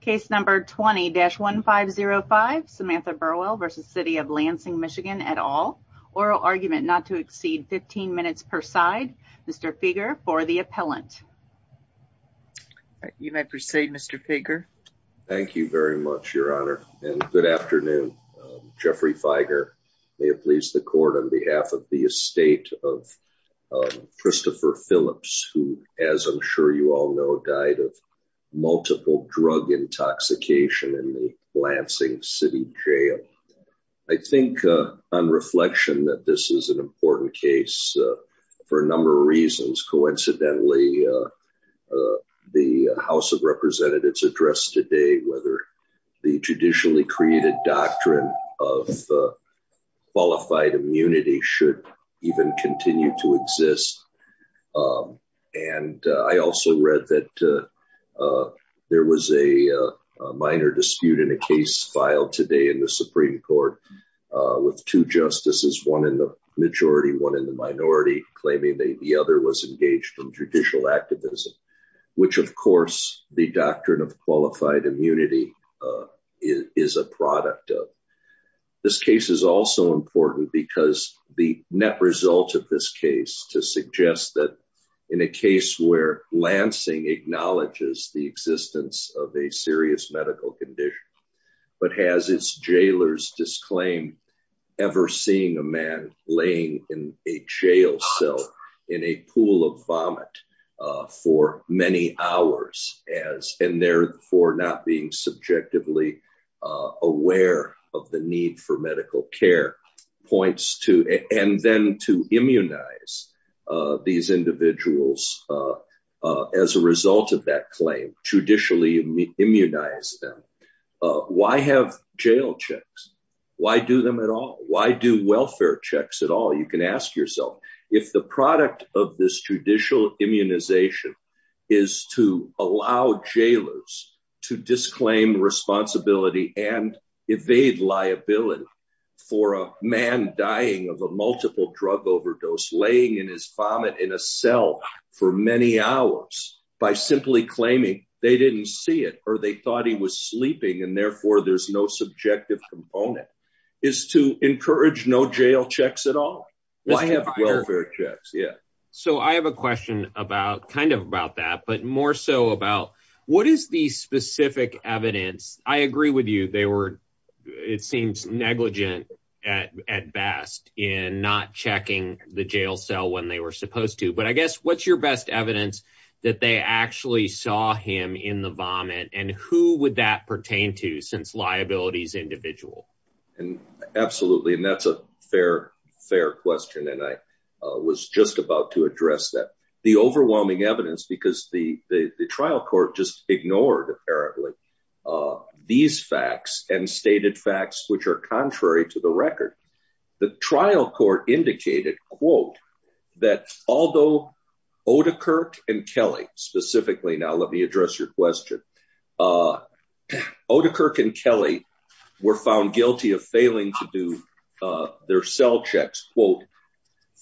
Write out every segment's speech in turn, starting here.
Case number 20-1505, Samantha Burwell v. City of Lansing, MI et al. Oral argument not to exceed 15 minutes per side. Mr. Feger for the appellant. You may proceed Mr. Feger. Thank you very much, Your Honor. And good afternoon, Jeffrey Feger. May it please the court on behalf of the estate of Christopher Phillips, who, as I'm sure you all know, died of multiple drug intoxication in the Lansing City Jail. I think on reflection that this is an important case for a number of reasons. Coincidentally, the House of Representatives addressed today whether the traditionally created doctrine of qualified immunity should even continue to exist. And I also read that there was a minor dispute in a case filed today in the Supreme Court with two justices, one in the majority, one in the minority, claiming that the other was engaged in judicial activism, which, of course, the doctrine of qualified immunity is a product of. This case is also important because the net result of this case to suggest that in a case where Lansing acknowledges the existence of a serious medical condition. But has its jailers disclaimed ever seeing a man laying in a jail cell in a pool of vomit for many hours as in there for not being subjectively aware of the need for medical care points to and then to immunize these individuals. As a result of that claim, judicially immunize them. Why have jail checks? Why do them at all? Why do welfare checks at all? You can ask yourself if the product of this judicial immunization is to allow jailers to disclaim responsibility and evade liability for a man dying of a multiple drug overdose laying in his vomit in a cell. For many hours by simply claiming they didn't see it or they thought he was sleeping and therefore there's no subjective component is to encourage no jail checks at all. Yeah. So I have a question about kind of about that, but more so about what is the specific evidence? I agree with you. They were it seems negligent at at best in not checking the jail cell when they were supposed to. But I guess what's your best evidence that they actually saw him in the vomit and who would that pertain to since liabilities individual? Absolutely. And that's a fair, fair question. And I was just about to address that. The overwhelming evidence because the trial court just ignored apparently these facts and stated facts which are contrary to the record. The trial court indicated, quote, that although Odekirk and Kelly specifically. Now, let me address your question. Odekirk and Kelly were found guilty of failing to do their cell checks, quote,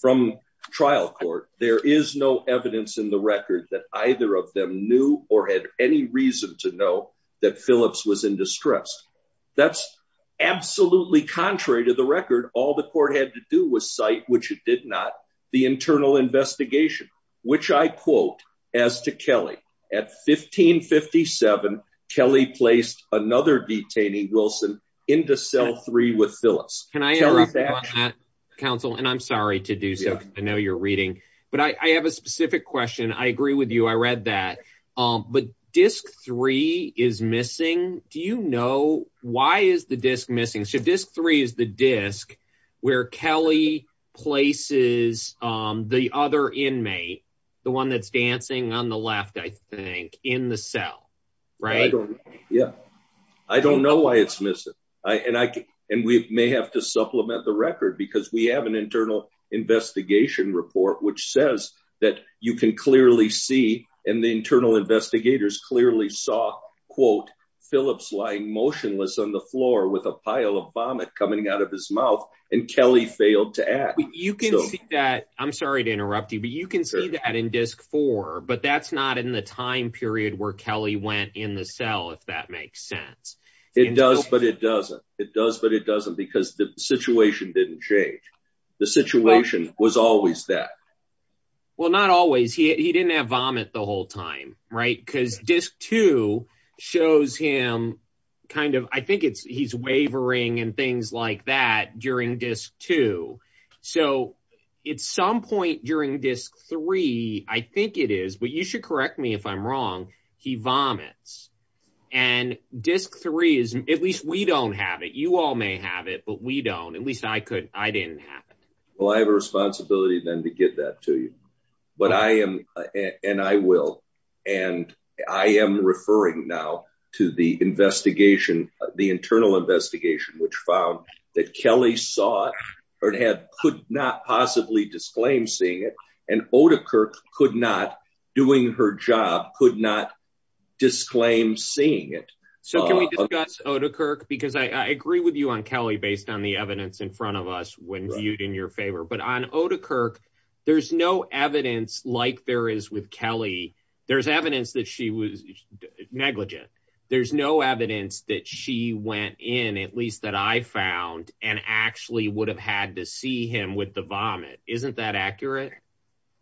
from trial court. There is no evidence in the record that either of them knew or had any reason to know that Phillips was in distress. That's absolutely contrary to the record. All the court had to do was cite, which it did not. The internal investigation, which I quote as to Kelly at 1557, Kelly placed another detaining Wilson into cell three with Phyllis. Can I ask that, counsel? And I'm sorry to do so. I know you're reading, but I have a specific question. I agree with you. I read that. But disc three is missing. Do you know why is the disc missing? So disc three is the disc where Kelly places the other inmate, the one that's dancing on the left, I think, in the cell, right? Yeah, I don't know why it's missing. And we may have to supplement the record because we have an internal investigation report, which says that you can clearly see. And the internal investigators clearly saw, quote, Phillips lying motionless on the floor with a pile of vomit coming out of his mouth. And Kelly failed to act. I'm sorry to interrupt you, but you can see that in disc four, but that's not in the time period where Kelly went in the cell, if that makes sense. It does, but it doesn't. It does, but it doesn't because the situation didn't change. The situation was always that. Well, not always. He didn't have vomit the whole time, right, because disc two shows him kind of I think it's he's wavering and things like that during disc two. So at some point during disc three, I think it is. But you should correct me if I'm wrong. He vomits. And disc three is at least we don't have it. You all may have it, but we don't. At least I could. I didn't have it. Well, I have a responsibility then to get that to you. But I am and I will. And I am referring now to the investigation, the internal investigation, which found that Kelly saw or had could not possibly disclaim seeing it. And Otakirk could not, doing her job, could not disclaim seeing it. So can we discuss Otakirk? Because I agree with you on Kelly based on the evidence in front of us when viewed in your favor. But on Otakirk, there's no evidence like there is with Kelly. There's evidence that she was negligent. There's no evidence that she went in, at least that I found, and actually would have had to see him with the vomit. Isn't that accurate?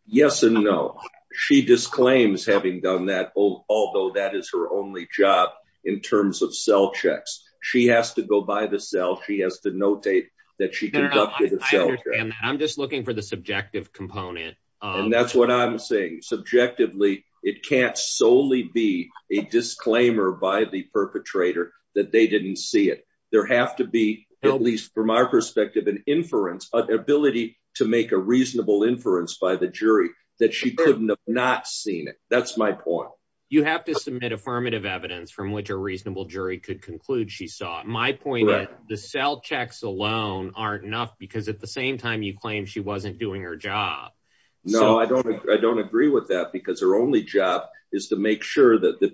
Yes and no. She disclaims having done that, although that is her only job in terms of cell checks. She has to go by the cell. She has to notate that she conducted a cell check. I'm just looking for the subjective component. And that's what I'm saying. Subjectively, it can't solely be a disclaimer by the perpetrator that they didn't see it. There have to be, at least from our perspective, an inference, an ability to make a reasonable inference by the jury that she couldn't have not seen it. That's my point. You have to submit affirmative evidence from which a reasonable jury could conclude she saw. My point is the cell checks alone aren't enough because at the same time you claim she wasn't doing her job. No, I don't. I don't agree with that because her only job is to make sure that the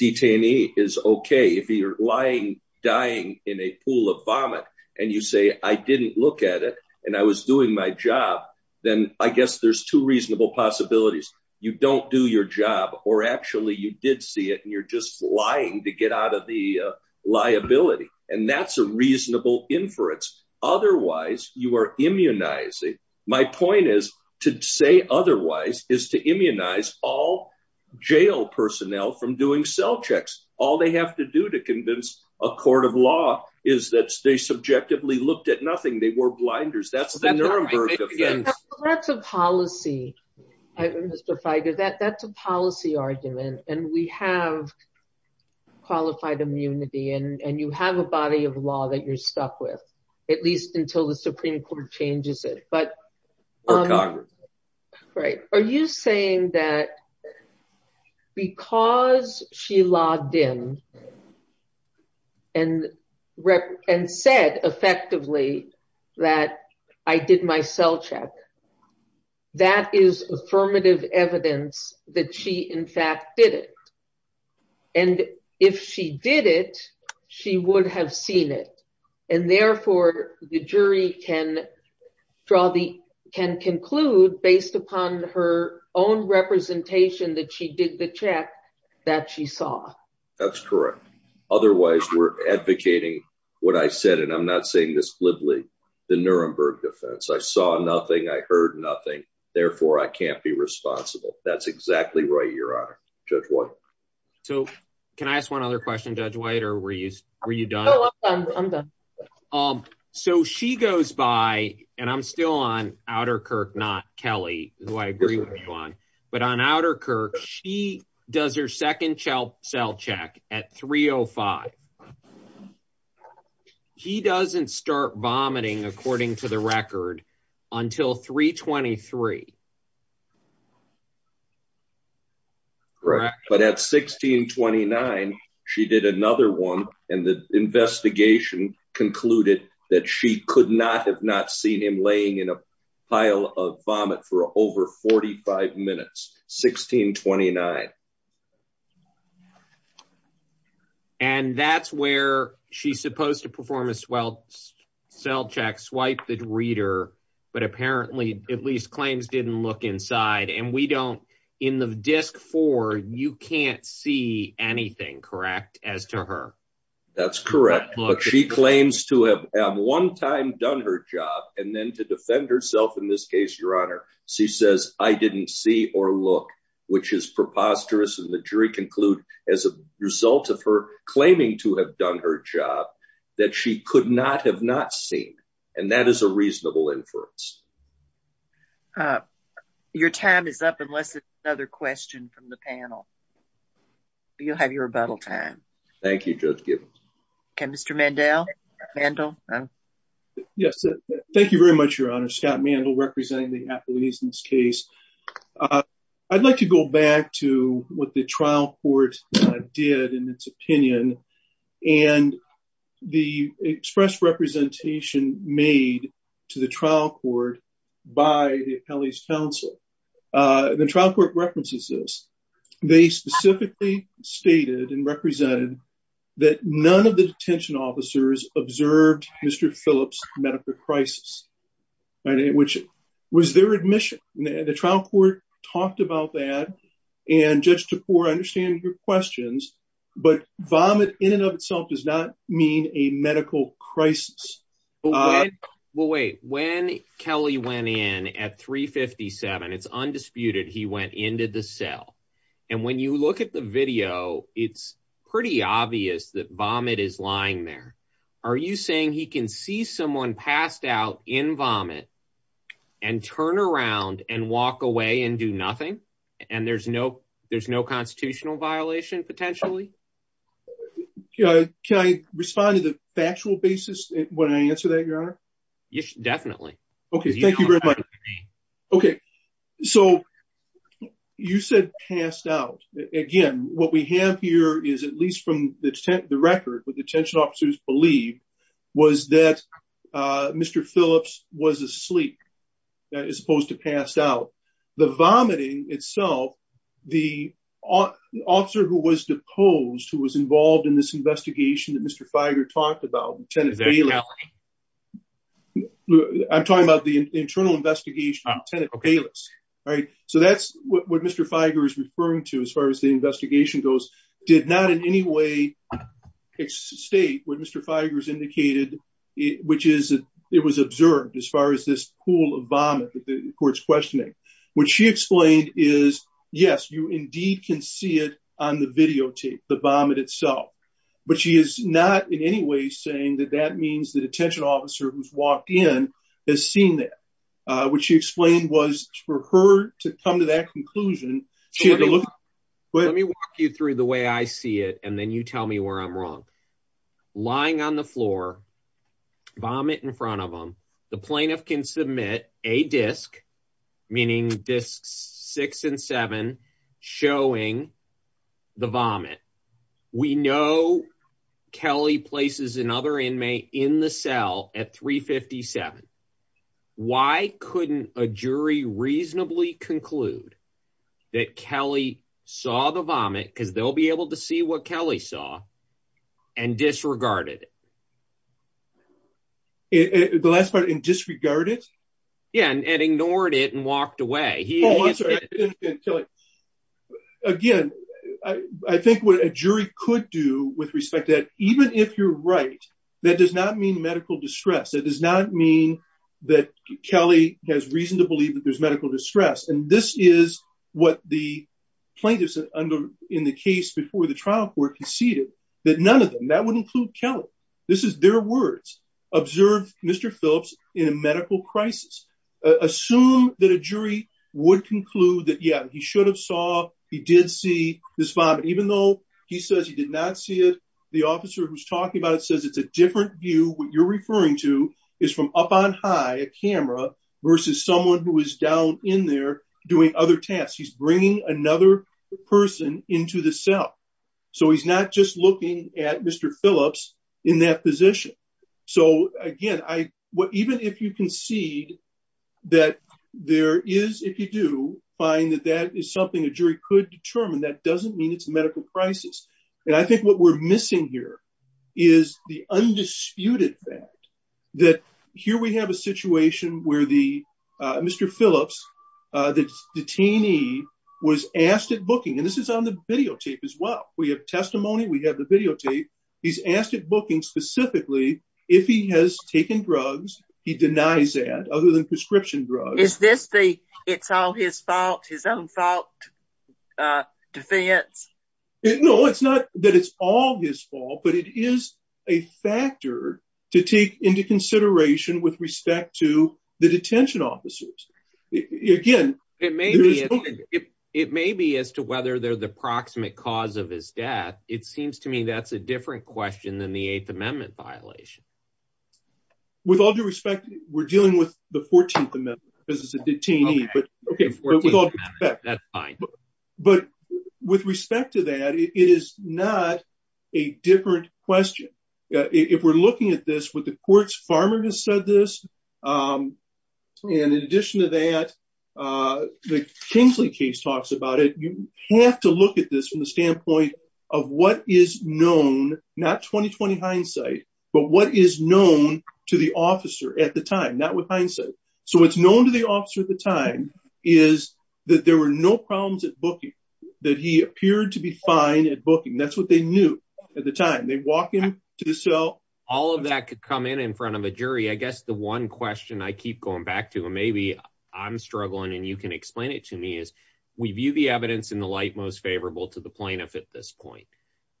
detainee is okay. If you're lying, dying in a pool of vomit, and you say, I didn't look at it, and I was doing my job, then I guess there's two reasonable possibilities. You don't do your job, or actually you did see it, and you're just lying to get out of the liability. And that's a reasonable inference. Otherwise, you are immunizing. My point is to say otherwise is to immunize all jail personnel from doing cell checks. All they have to do to convince a court of law is that they subjectively looked at nothing. They wore blinders. That's the Nuremberg of things. That's a policy argument, and we have qualified immunity, and you have a body of law that you're stuck with, at least until the Supreme Court changes it. Right. Are you saying that because she logged in and said effectively that I did my cell check, that is affirmative evidence that she in fact did it? And if she did it, she would have seen it. And therefore, the jury can conclude based upon her own representation that she did the check that she saw. That's correct. Otherwise, we're advocating what I said, and I'm not saying this glibly, the Nuremberg defense. I saw nothing. I heard nothing. Therefore, I can't be responsible. That's exactly right, Your Honor, Judge White. So can I ask one other question, Judge White, or were you done? I'm done. So she goes by, and I'm still on Outterkirk, not Kelly, who I agree with you on, but on Outterkirk, she does her second cell check at 3.05. She doesn't start vomiting, according to the record, until 3.23. Correct. But at 16.29, she did another one, and the investigation concluded that she could not have not seen him laying in a pile of vomit for over 45 minutes, 16.29. And that's where she's supposed to perform a cell check, swipe the reader, but apparently at least claims didn't look inside. And we don't, in the disc four, you can't see anything, correct, as to her? That's correct. But she claims to have one time done her job, and then to defend herself in this case, Your Honor, she says, I didn't see or look, which is preposterous, and the jury conclude as a result of her claiming to have done her job that she could not have not seen. And that is a reasonable inference. Your time is up, unless it's another question from the panel. You'll have your rebuttal time. Thank you, Judge Gibbons. Okay, Mr. Mandel. Yes, thank you very much, Your Honor. Scott Mandel representing the athletes in this case. I'd like to go back to what the trial court did in its opinion, and the express representation made to the trial court by the appellees counsel. The trial court references this, they specifically stated and represented that none of the detention officers observed Mr. Phillips medical crisis, which was their admission, and the trial court talked about that. And just to understand your questions, but vomit in and of itself does not mean a medical crisis. Well, wait, when Kelly went in at 357 it's undisputed he went into the cell. And when you look at the video, it's pretty obvious that vomit is lying there. Are you saying he can see someone passed out in vomit and turn around and walk away and do nothing. And there's no, there's no constitutional violation potentially. Can I respond to the factual basis when I answer that, Your Honor. Yes, definitely. Okay, thank you very much. Okay, so you said passed out. Again, what we have here is at least from the record with detention officers believe was that Mr. Phillips was asleep, as opposed to pass out the vomiting itself. The officer who was deposed who was involved in this investigation that Mr. Feiger talked about. I'm talking about the internal investigation. Right. So that's what Mr. Feiger is referring to as far as the investigation goes, did not in any way state what Mr. Feiger is indicated, which is, it was observed as far as this pool of vomit that the courts questioning, which she explained is, yes, you indeed can see it on the videotape, the vomit itself, but she is not in any way saying that that means the detention officer who's walked in has seen that. What she explained was for her to come to that conclusion. But let me walk you through the way I see it and then you tell me where I'm wrong. Lying on the floor. Vomit in front of them. The plaintiff can submit a disk, meaning this six and seven showing the vomit. We know Kelly places another inmate in the cell at 357. Why couldn't a jury reasonably conclude that Kelly saw the vomit because they'll be able to see what Kelly saw and disregarded. The last part in disregarded. Yeah, and ignored it and walked away. Again, I think what a jury could do with respect to that, even if you're right, that does not mean medical distress. It does not mean that Kelly has reason to believe that there's medical distress. And this is what the plaintiffs under in the case before the trial court conceded that none of them that would include Kelly. This is their words. Observe Mr. Phillips in a medical crisis. Assume that a jury would conclude that, yeah, he should have saw he did see this vomit, even though he says he did not see it. The officer who's talking about it says it's a different view. What you're referring to is from up on high a camera versus someone who is down in there doing other tasks. He's bringing another person into the cell. So he's not just looking at Mr. Phillips in that position. So, again, I what even if you concede that there is, if you do find that that is something a jury could determine, that doesn't mean it's a medical crisis. And I think what we're missing here is the undisputed fact that here we have a situation where the Mr. Phillips, the detainee, was asked at booking. And this is on the videotape as well. We have testimony. We have the videotape. He's asked at booking specifically if he has taken drugs. He denies that other than prescription drugs. Is this the it's all his fault, his own fault defense? No, it's not that it's all his fault, but it is a factor to take into consideration with respect to the detention officers. Again, it may be it may be as to whether they're the proximate cause of his death. It seems to me that's a different question than the Eighth Amendment violation. With all due respect, we're dealing with the 14th Amendment because it's a detainee. But that's fine. But with respect to that, it is not a different question. If we're looking at this with the courts, farmer has said this. And in addition to that, the Kingsley case talks about it. You have to look at this from the standpoint of what is known, not 2020 hindsight, but what is known to the officer at the time, not with hindsight. So it's known to the officer at the time is that there were no problems at booking that he appeared to be fine at booking. That's what they knew at the time. They walk him to the cell. All of that could come in in front of a jury. I guess the one question I keep going back to him, maybe I'm struggling and you can explain it to me is we view the evidence in the light most favorable to the plaintiff at this point.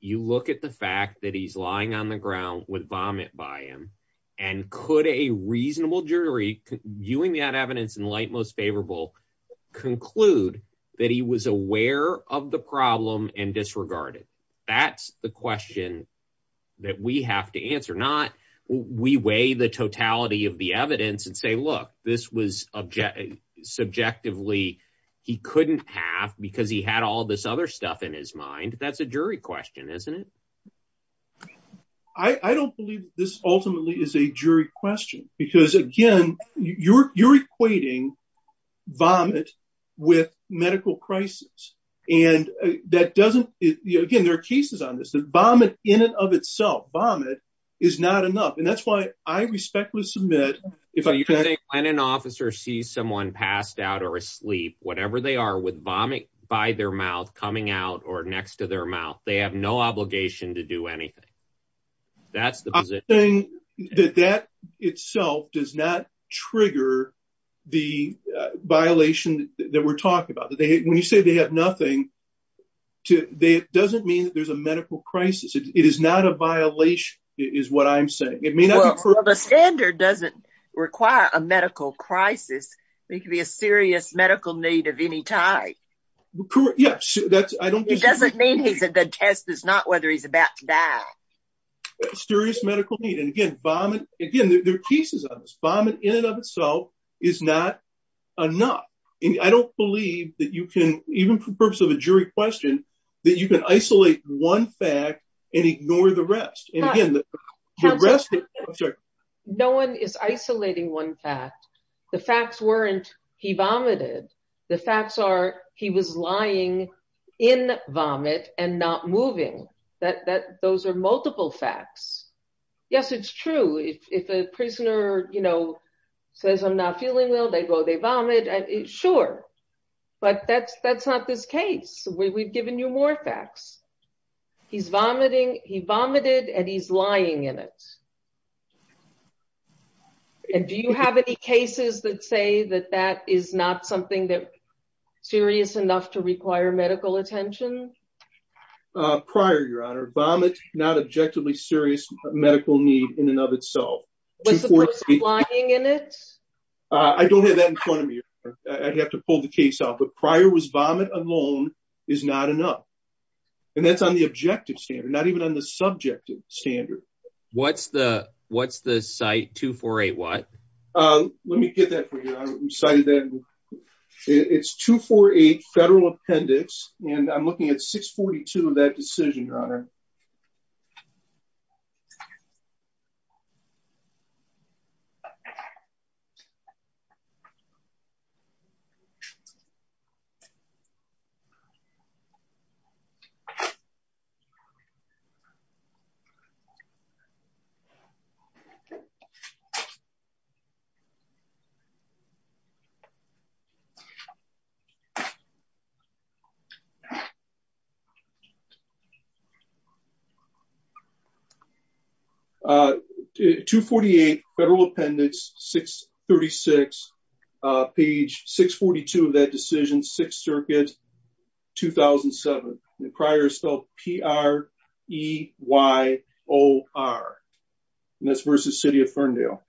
You look at the fact that he's lying on the ground with vomit by him. And could a reasonable jury viewing that evidence in light most favorable conclude that he was aware of the problem and disregarded? That's the question that we have to answer, not we weigh the totality of the evidence and say, look, this was object subjectively. He couldn't have because he had all this other stuff in his mind. That's a jury question, isn't it? I don't believe this ultimately is a jury question because, again, you're equating vomit with medical crisis. And that doesn't. Again, there are cases on this vomit in and of itself. Vomit is not enough. And that's why I respectfully submit. If you think when an officer sees someone passed out or asleep, whatever they are with vomit by their mouth coming out or next to their mouth, they have no obligation to do anything. That's the thing that that itself does not trigger the violation that we're talking about. When you say they have nothing to say, it doesn't mean there's a medical crisis. It is not a violation is what I'm saying. It may not be true. The standard doesn't require a medical crisis. It could be a serious medical need of any type. Yes, that's I don't. It doesn't mean he's a good test is not whether he's about to die. Serious medical need. And again, vomit. Again, there are pieces of this vomit in and of itself is not enough. I don't believe that you can even for the purpose of a jury question that you can isolate one fact and ignore the rest. No one is isolating one fact. The facts weren't he vomited. The facts are he was lying in vomit and not moving that that those are multiple facts. Yes, it's true. If a prisoner, you know, says I'm not feeling well, they go they vomit. Sure. But that's that's not this case. We've given you more facts. He's vomiting. He vomited and he's lying in it. And do you have any cases that say that that is not something that serious enough to require medical attention? Prior, Your Honor, vomit, not objectively serious medical need in and of itself. Was the person lying in it? I don't have that in front of me. I'd have to pull the case out. But prior was vomit alone is not enough. And that's on the objective standard, not even on the subjective standard. What's the what's the site 248 what? Let me get that cited that it's 248 federal appendix and I'm looking at 642 of that decision. 248 federal appendix 636 page 642 of that decision. 2007. Prior is spelled P-R-E-Y-O-R. And that's versus City of Ferndale.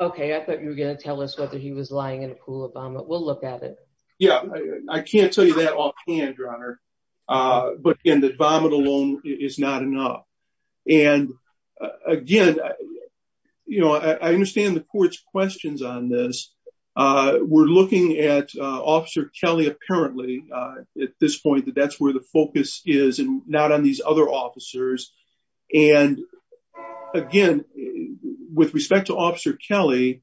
OK, I thought you were going to tell us whether he was lying in a pool of vomit. We'll look at it. Yeah, I can't tell you that offhand, Your Honor. But again, the vomit alone is not enough. And again, you know, I understand the court's questions on this. We're looking at Officer Kelly, apparently at this point, that that's where the focus is and not on these other officers. And again, with respect to Officer Kelly,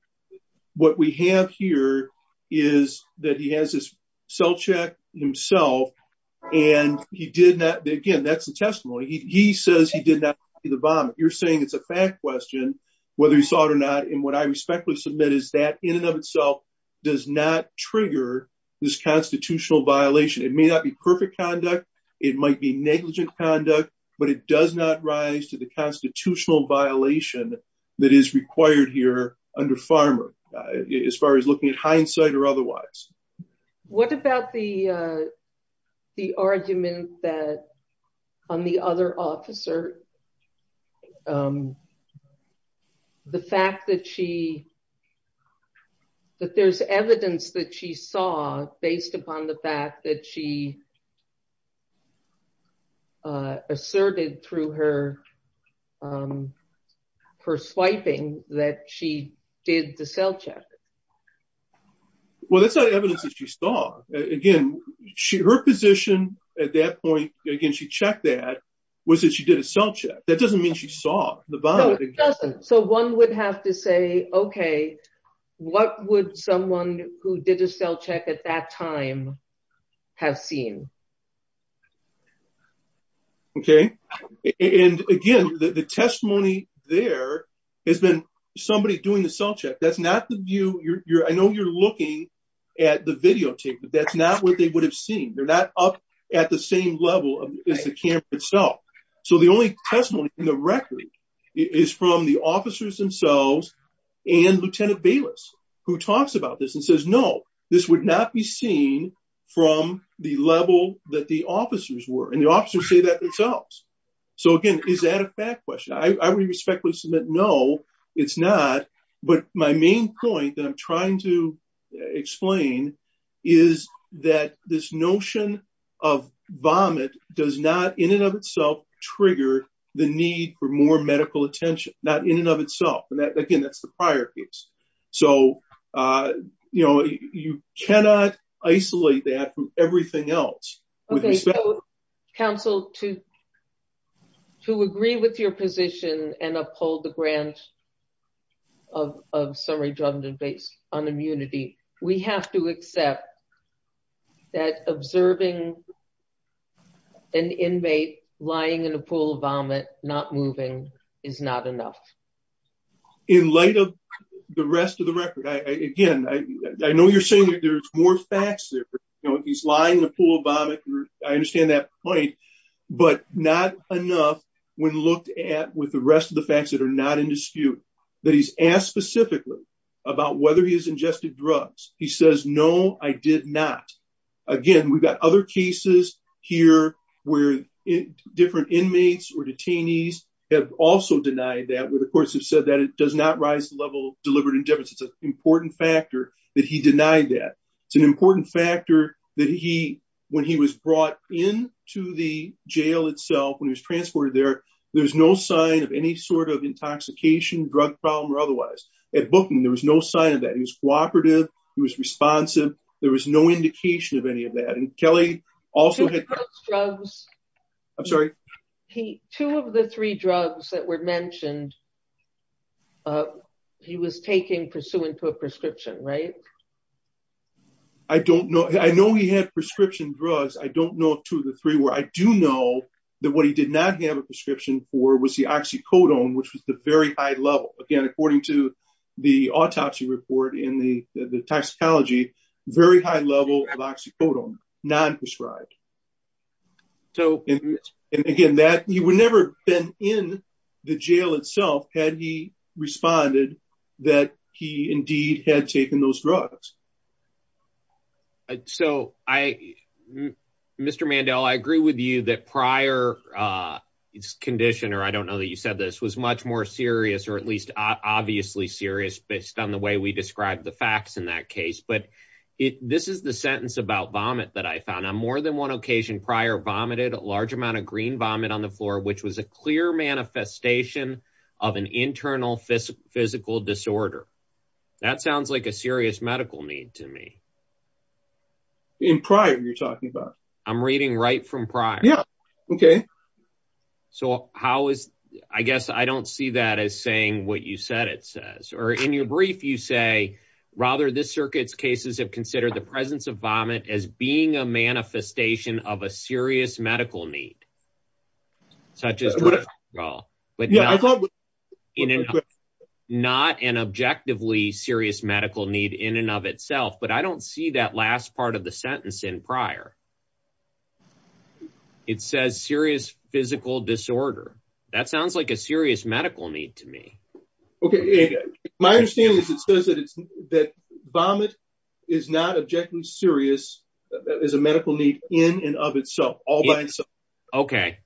what we have here is that he has his cell check himself. And he did not. Again, that's a testimony. He says he did not see the bomb. You're saying it's a fact question whether he saw it or not. And what I respectfully submit is that in and of itself does not trigger this constitutional violation. It may not be perfect conduct. It might be negligent conduct. But it does not rise to the constitutional violation that is required here under Farmer as far as looking at hindsight or otherwise. What about the the argument that on the other officer? The fact that she that there's evidence that she saw based upon the fact that she. Asserted through her her swiping that she did the cell check. Well, that's not evidence that she saw. Again, she her position at that point. Again, she checked that was that she did a cell check. That doesn't mean she saw the bomb. So one would have to say, OK, what would someone who did a cell check at that time have seen? OK, and again, the testimony there has been somebody doing the cell check. That's not the view you're I know you're looking at the videotape, but that's not what they would have seen. They're not up at the same level of the camp itself. So the only testimony in the record is from the officers themselves. And Lieutenant Bayless, who talks about this and says, no, this would not be seen from the level that the officers were in. The officers say that themselves. So again, is that a bad question? I would respectfully submit. No, it's not. But my main point that I'm trying to explain is that this notion of vomit does not in and of itself trigger the need for more medical attention, not in and of itself. And again, that's the prior piece. So, you know, you cannot isolate that from everything else. Counsel to. To agree with your position and uphold the grant. Of some redundant based on immunity, we have to accept that observing an inmate lying in a pool of vomit, not moving is not enough. In light of the rest of the record, I again, I know you're saying there's more facts there. He's lying in a pool of vomit. I understand that point, but not enough. When looked at with the rest of the facts that are not in dispute that he's asked specifically about whether he has ingested drugs. He says, no, I did not. Again, we've got other cases here where different inmates or detainees have also denied that with the courts have said that it does not rise to the level of deliberate indifference. It's an important factor that he denied that. It's an important factor that he when he was brought in to the jail itself, when he was transported there, there's no sign of any sort of intoxication, drug problem or otherwise. At Bookman, there was no sign of that. He was cooperative. He was responsive. There was no indication of any of that. And Kelly also had drugs. I'm sorry. He two of the three drugs that were mentioned. He was taking pursuant to a prescription, right? I don't know. I know he had prescription drugs. I don't know two of the three where I do know that what he did not have a prescription for was the oxycodone, which was the very high level. Again, according to the autopsy report in the toxicology, very high level of oxycodone, non-prescribed. So, and again, that he would never been in the jail itself had he responded that he indeed had taken those drugs. So I, Mr. Mandel, I agree with you that prior condition or I don't know that you said this was much more serious or at least obviously serious based on the way we described the facts in that case. But this is the sentence about vomit that I found on more than one occasion prior vomited a large amount of green vomit on the floor, which was a clear manifestation of an internal physical disorder. That sounds like a serious medical need to me. In prior you're talking about. I'm reading right from prior. Yeah. Okay. So, how is, I guess I don't see that as saying what you said it says or in your brief you say, rather this circuits cases have considered the presence of vomit as being a manifestation of a serious medical need. Such as well, but not an objectively serious medical need in and of itself, but I don't see that last part of the sentence in prior. It says serious physical disorder. That sounds like a serious medical need to me. Okay. My understanding is it says that it's that vomit is not objectively serious is a medical need in and of itself all by itself. Okay.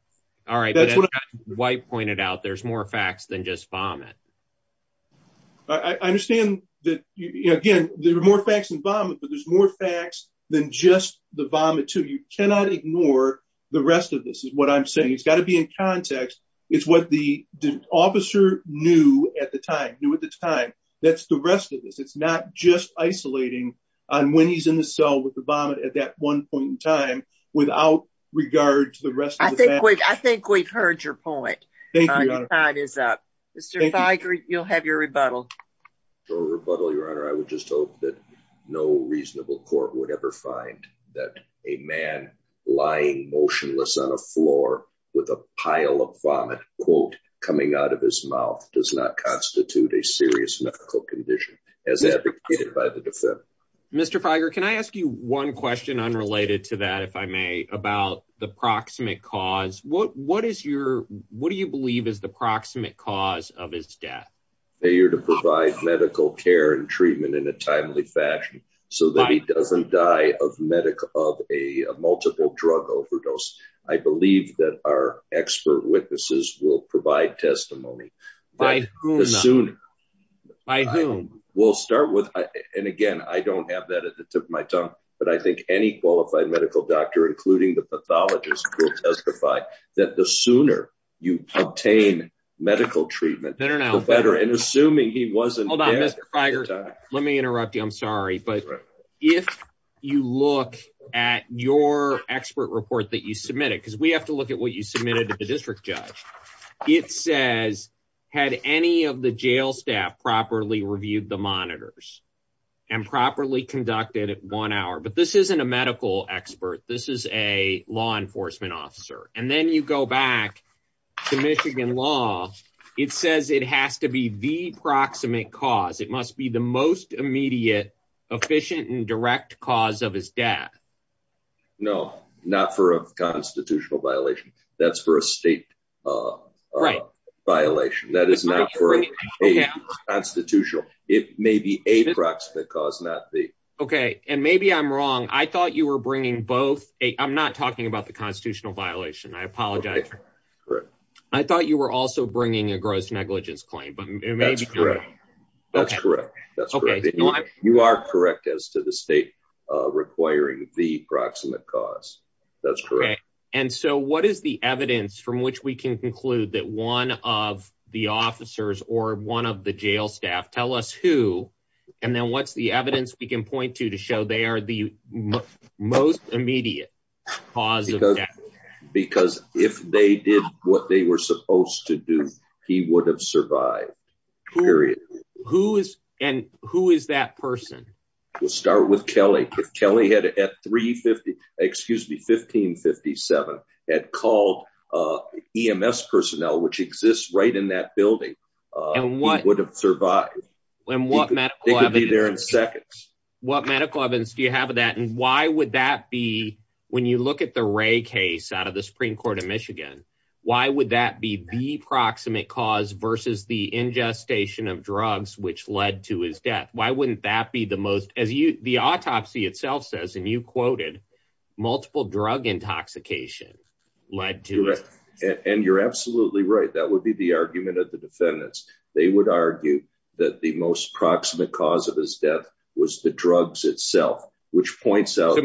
All right. White pointed out there's more facts than just vomit. I understand that, again, there are more facts and vomit but there's more facts than just the vomit to you cannot ignore the rest of this is what I'm saying it's got to be in context. It's what the officer knew at the time knew at the time. That's the rest of this. It's not just isolating on when he's in the cell with the vomit at that one point in time, without regard to the rest. I think we've, I think we've heard your point is that you'll have your rebuttal or rebuttal your honor I would just hope that no reasonable court would ever find that a man lying motionless on a floor with a pile of vomit quote coming out of his mouth does not constitute a serious medical condition. As advocated by the defendant. Mr fire Can I ask you one question unrelated to that if I may, about the proximate cause, what, what is your, what do you believe is the proximate cause of his death. They are to provide medical care and treatment in a timely fashion, so that he doesn't die of medical of a multiple drug overdose. I believe that our expert witnesses will provide testimony by soon. We'll start with. And again, I don't have that at the tip of my tongue, but I think any qualified medical doctor including the pathologist will testify that the sooner you obtain medical treatment better and better and assuming he wasn't. Let me interrupt you I'm sorry but if you look at your expert report that you submitted because we have to look at what you submitted to the district judge. It says, had any of the jail staff properly reviewed the monitors and properly conducted at one hour but this isn't a medical expert, this is a law enforcement officer, and then you go back to Michigan law. It says it has to be the proximate cause it must be the most immediate efficient and direct cause of his dad. No, not for a constitutional violation, that's for a state violation that is not for a constitutional, it may be a proximate cause not the. Okay, and maybe I'm wrong I thought you were bringing both a I'm not talking about the constitutional violation I apologize. I thought you were also bringing a gross negligence claim but maybe that's correct. That's correct. That's okay. You are correct as to the state, requiring the proximate cause. That's great. And so what is the evidence from which we can conclude that one of the officers or one of the jail staff tell us who, and then what's the evidence we can point to to show they are the most immediate positive. Because if they did what they were supposed to do, he would have survived. Who is, and who is that person will start with Kelly Kelly had at 350, excuse me 1557 had called EMS personnel which exists right in that building. And what would have survived when what medical evidence there in seconds. What medical evidence do you have that and why would that be when you look at the ray case out of the Supreme Court of Michigan. Why would that be the proximate cause versus the ingestation of drugs which led to his death, why wouldn't that be the most as you the autopsy itself says and you quoted multiple drug intoxication. And you're absolutely right, that would be the argument of the defendants, they would argue that the most proximate cause of his death was the drugs itself, which points out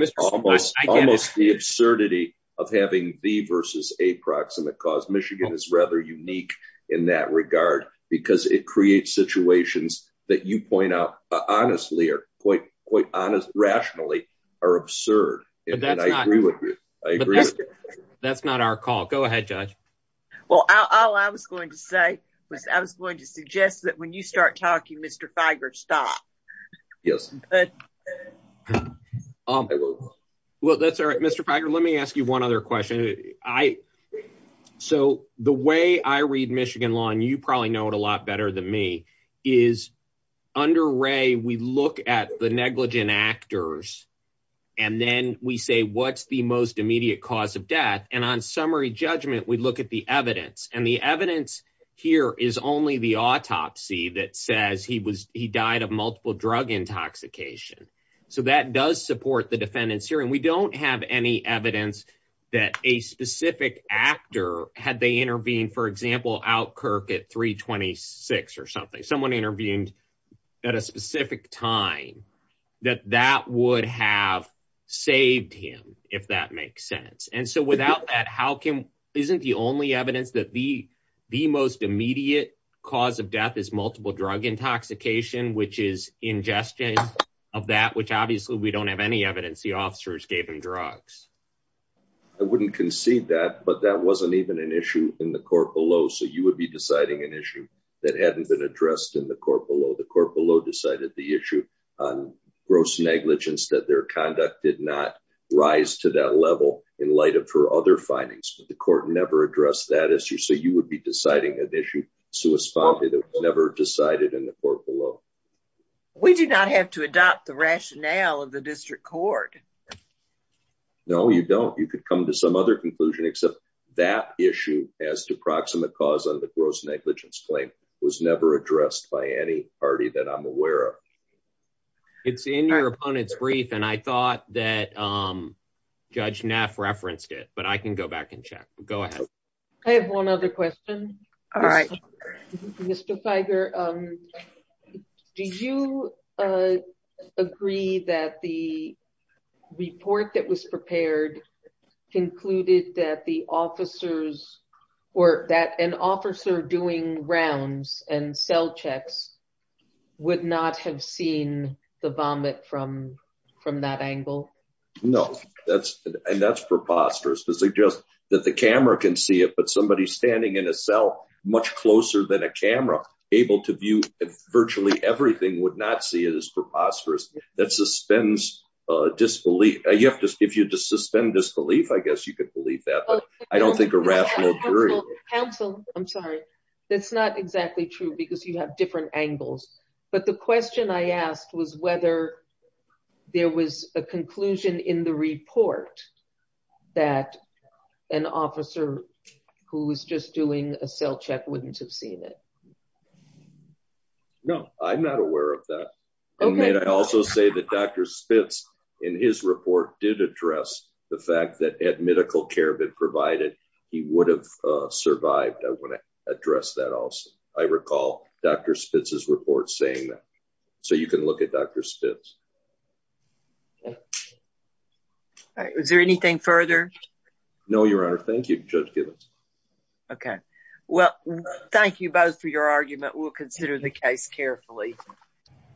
almost the absurdity of having the versus a proximate cause Michigan is rather unique in that regard, because it creates situations that you point out, honestly are quite quite honest rationally are absurd. I agree. That's not our call. Go ahead, judge. Well, I was going to say was I was going to suggest that when you start talking Mr Fager stop. Yes. Um, well that's all right Mr Fager let me ask you one other question. I. So, the way I read Michigan law and you probably know it a lot better than me is under Ray we look at the negligent actors. And then we say what's the most immediate cause of death and on summary judgment we look at the evidence and the evidence here is only the autopsy that says he was, he died of multiple drug intoxication. So that does support the defendants here and we don't have any evidence that a specific actor, had they intervene for example out Kirk at 326 or something someone intervened at a specific time that that would have saved him, if that makes sense. And so without that how can isn't the only evidence that the, the most immediate cause of death is multiple drug intoxication which is ingestion of that which obviously we don't have any evidence the officers gave him drugs. I wouldn't concede that but that wasn't even an issue in the court below so you would be deciding an issue that hadn't been addressed in the court below the court below decided the issue on gross negligence that their conduct did not rise to that level in light of her other findings, but the court never address that issue so you would be deciding an issue. Never decided in the court below. We do not have to adopt the rationale of the district court. No, you don't you could come to some other conclusion except that issue as to proximate cause of the gross negligence claim was never addressed by any party that I'm aware of. It's in your opponents brief and I thought that I'm judge Neff referenced it but I can go back and check. Go ahead. I have one other question. All right. Mr Tiger. Do you agree that the report that was prepared concluded that the officers were that an officer doing rounds and cell checks would not have seen the vomit from from that angle. No, that's, and that's preposterous because they just that the camera can see it but somebody standing in a cell, much closer than a camera, able to view virtually everything would not see it as preposterous that suspends disbelief, you have to give you to suspend disbelief I guess you could believe that I don't think a rational. I'm sorry. That's not exactly true because you have different angles. But the question I asked was whether there was a conclusion in the report that an officer who was just doing a cell check wouldn't have seen it. No, I'm not aware of that. Okay, I also say that Dr Spitz in his report did address the fact that at medical care been provided, he would have survived I want to address that also, I recall, Dr Spitz his report saying that. So you can look at Dr Spitz. Is there anything further. No, Your Honor. Thank you. Okay, well, thank you both for your argument we'll consider the case carefully.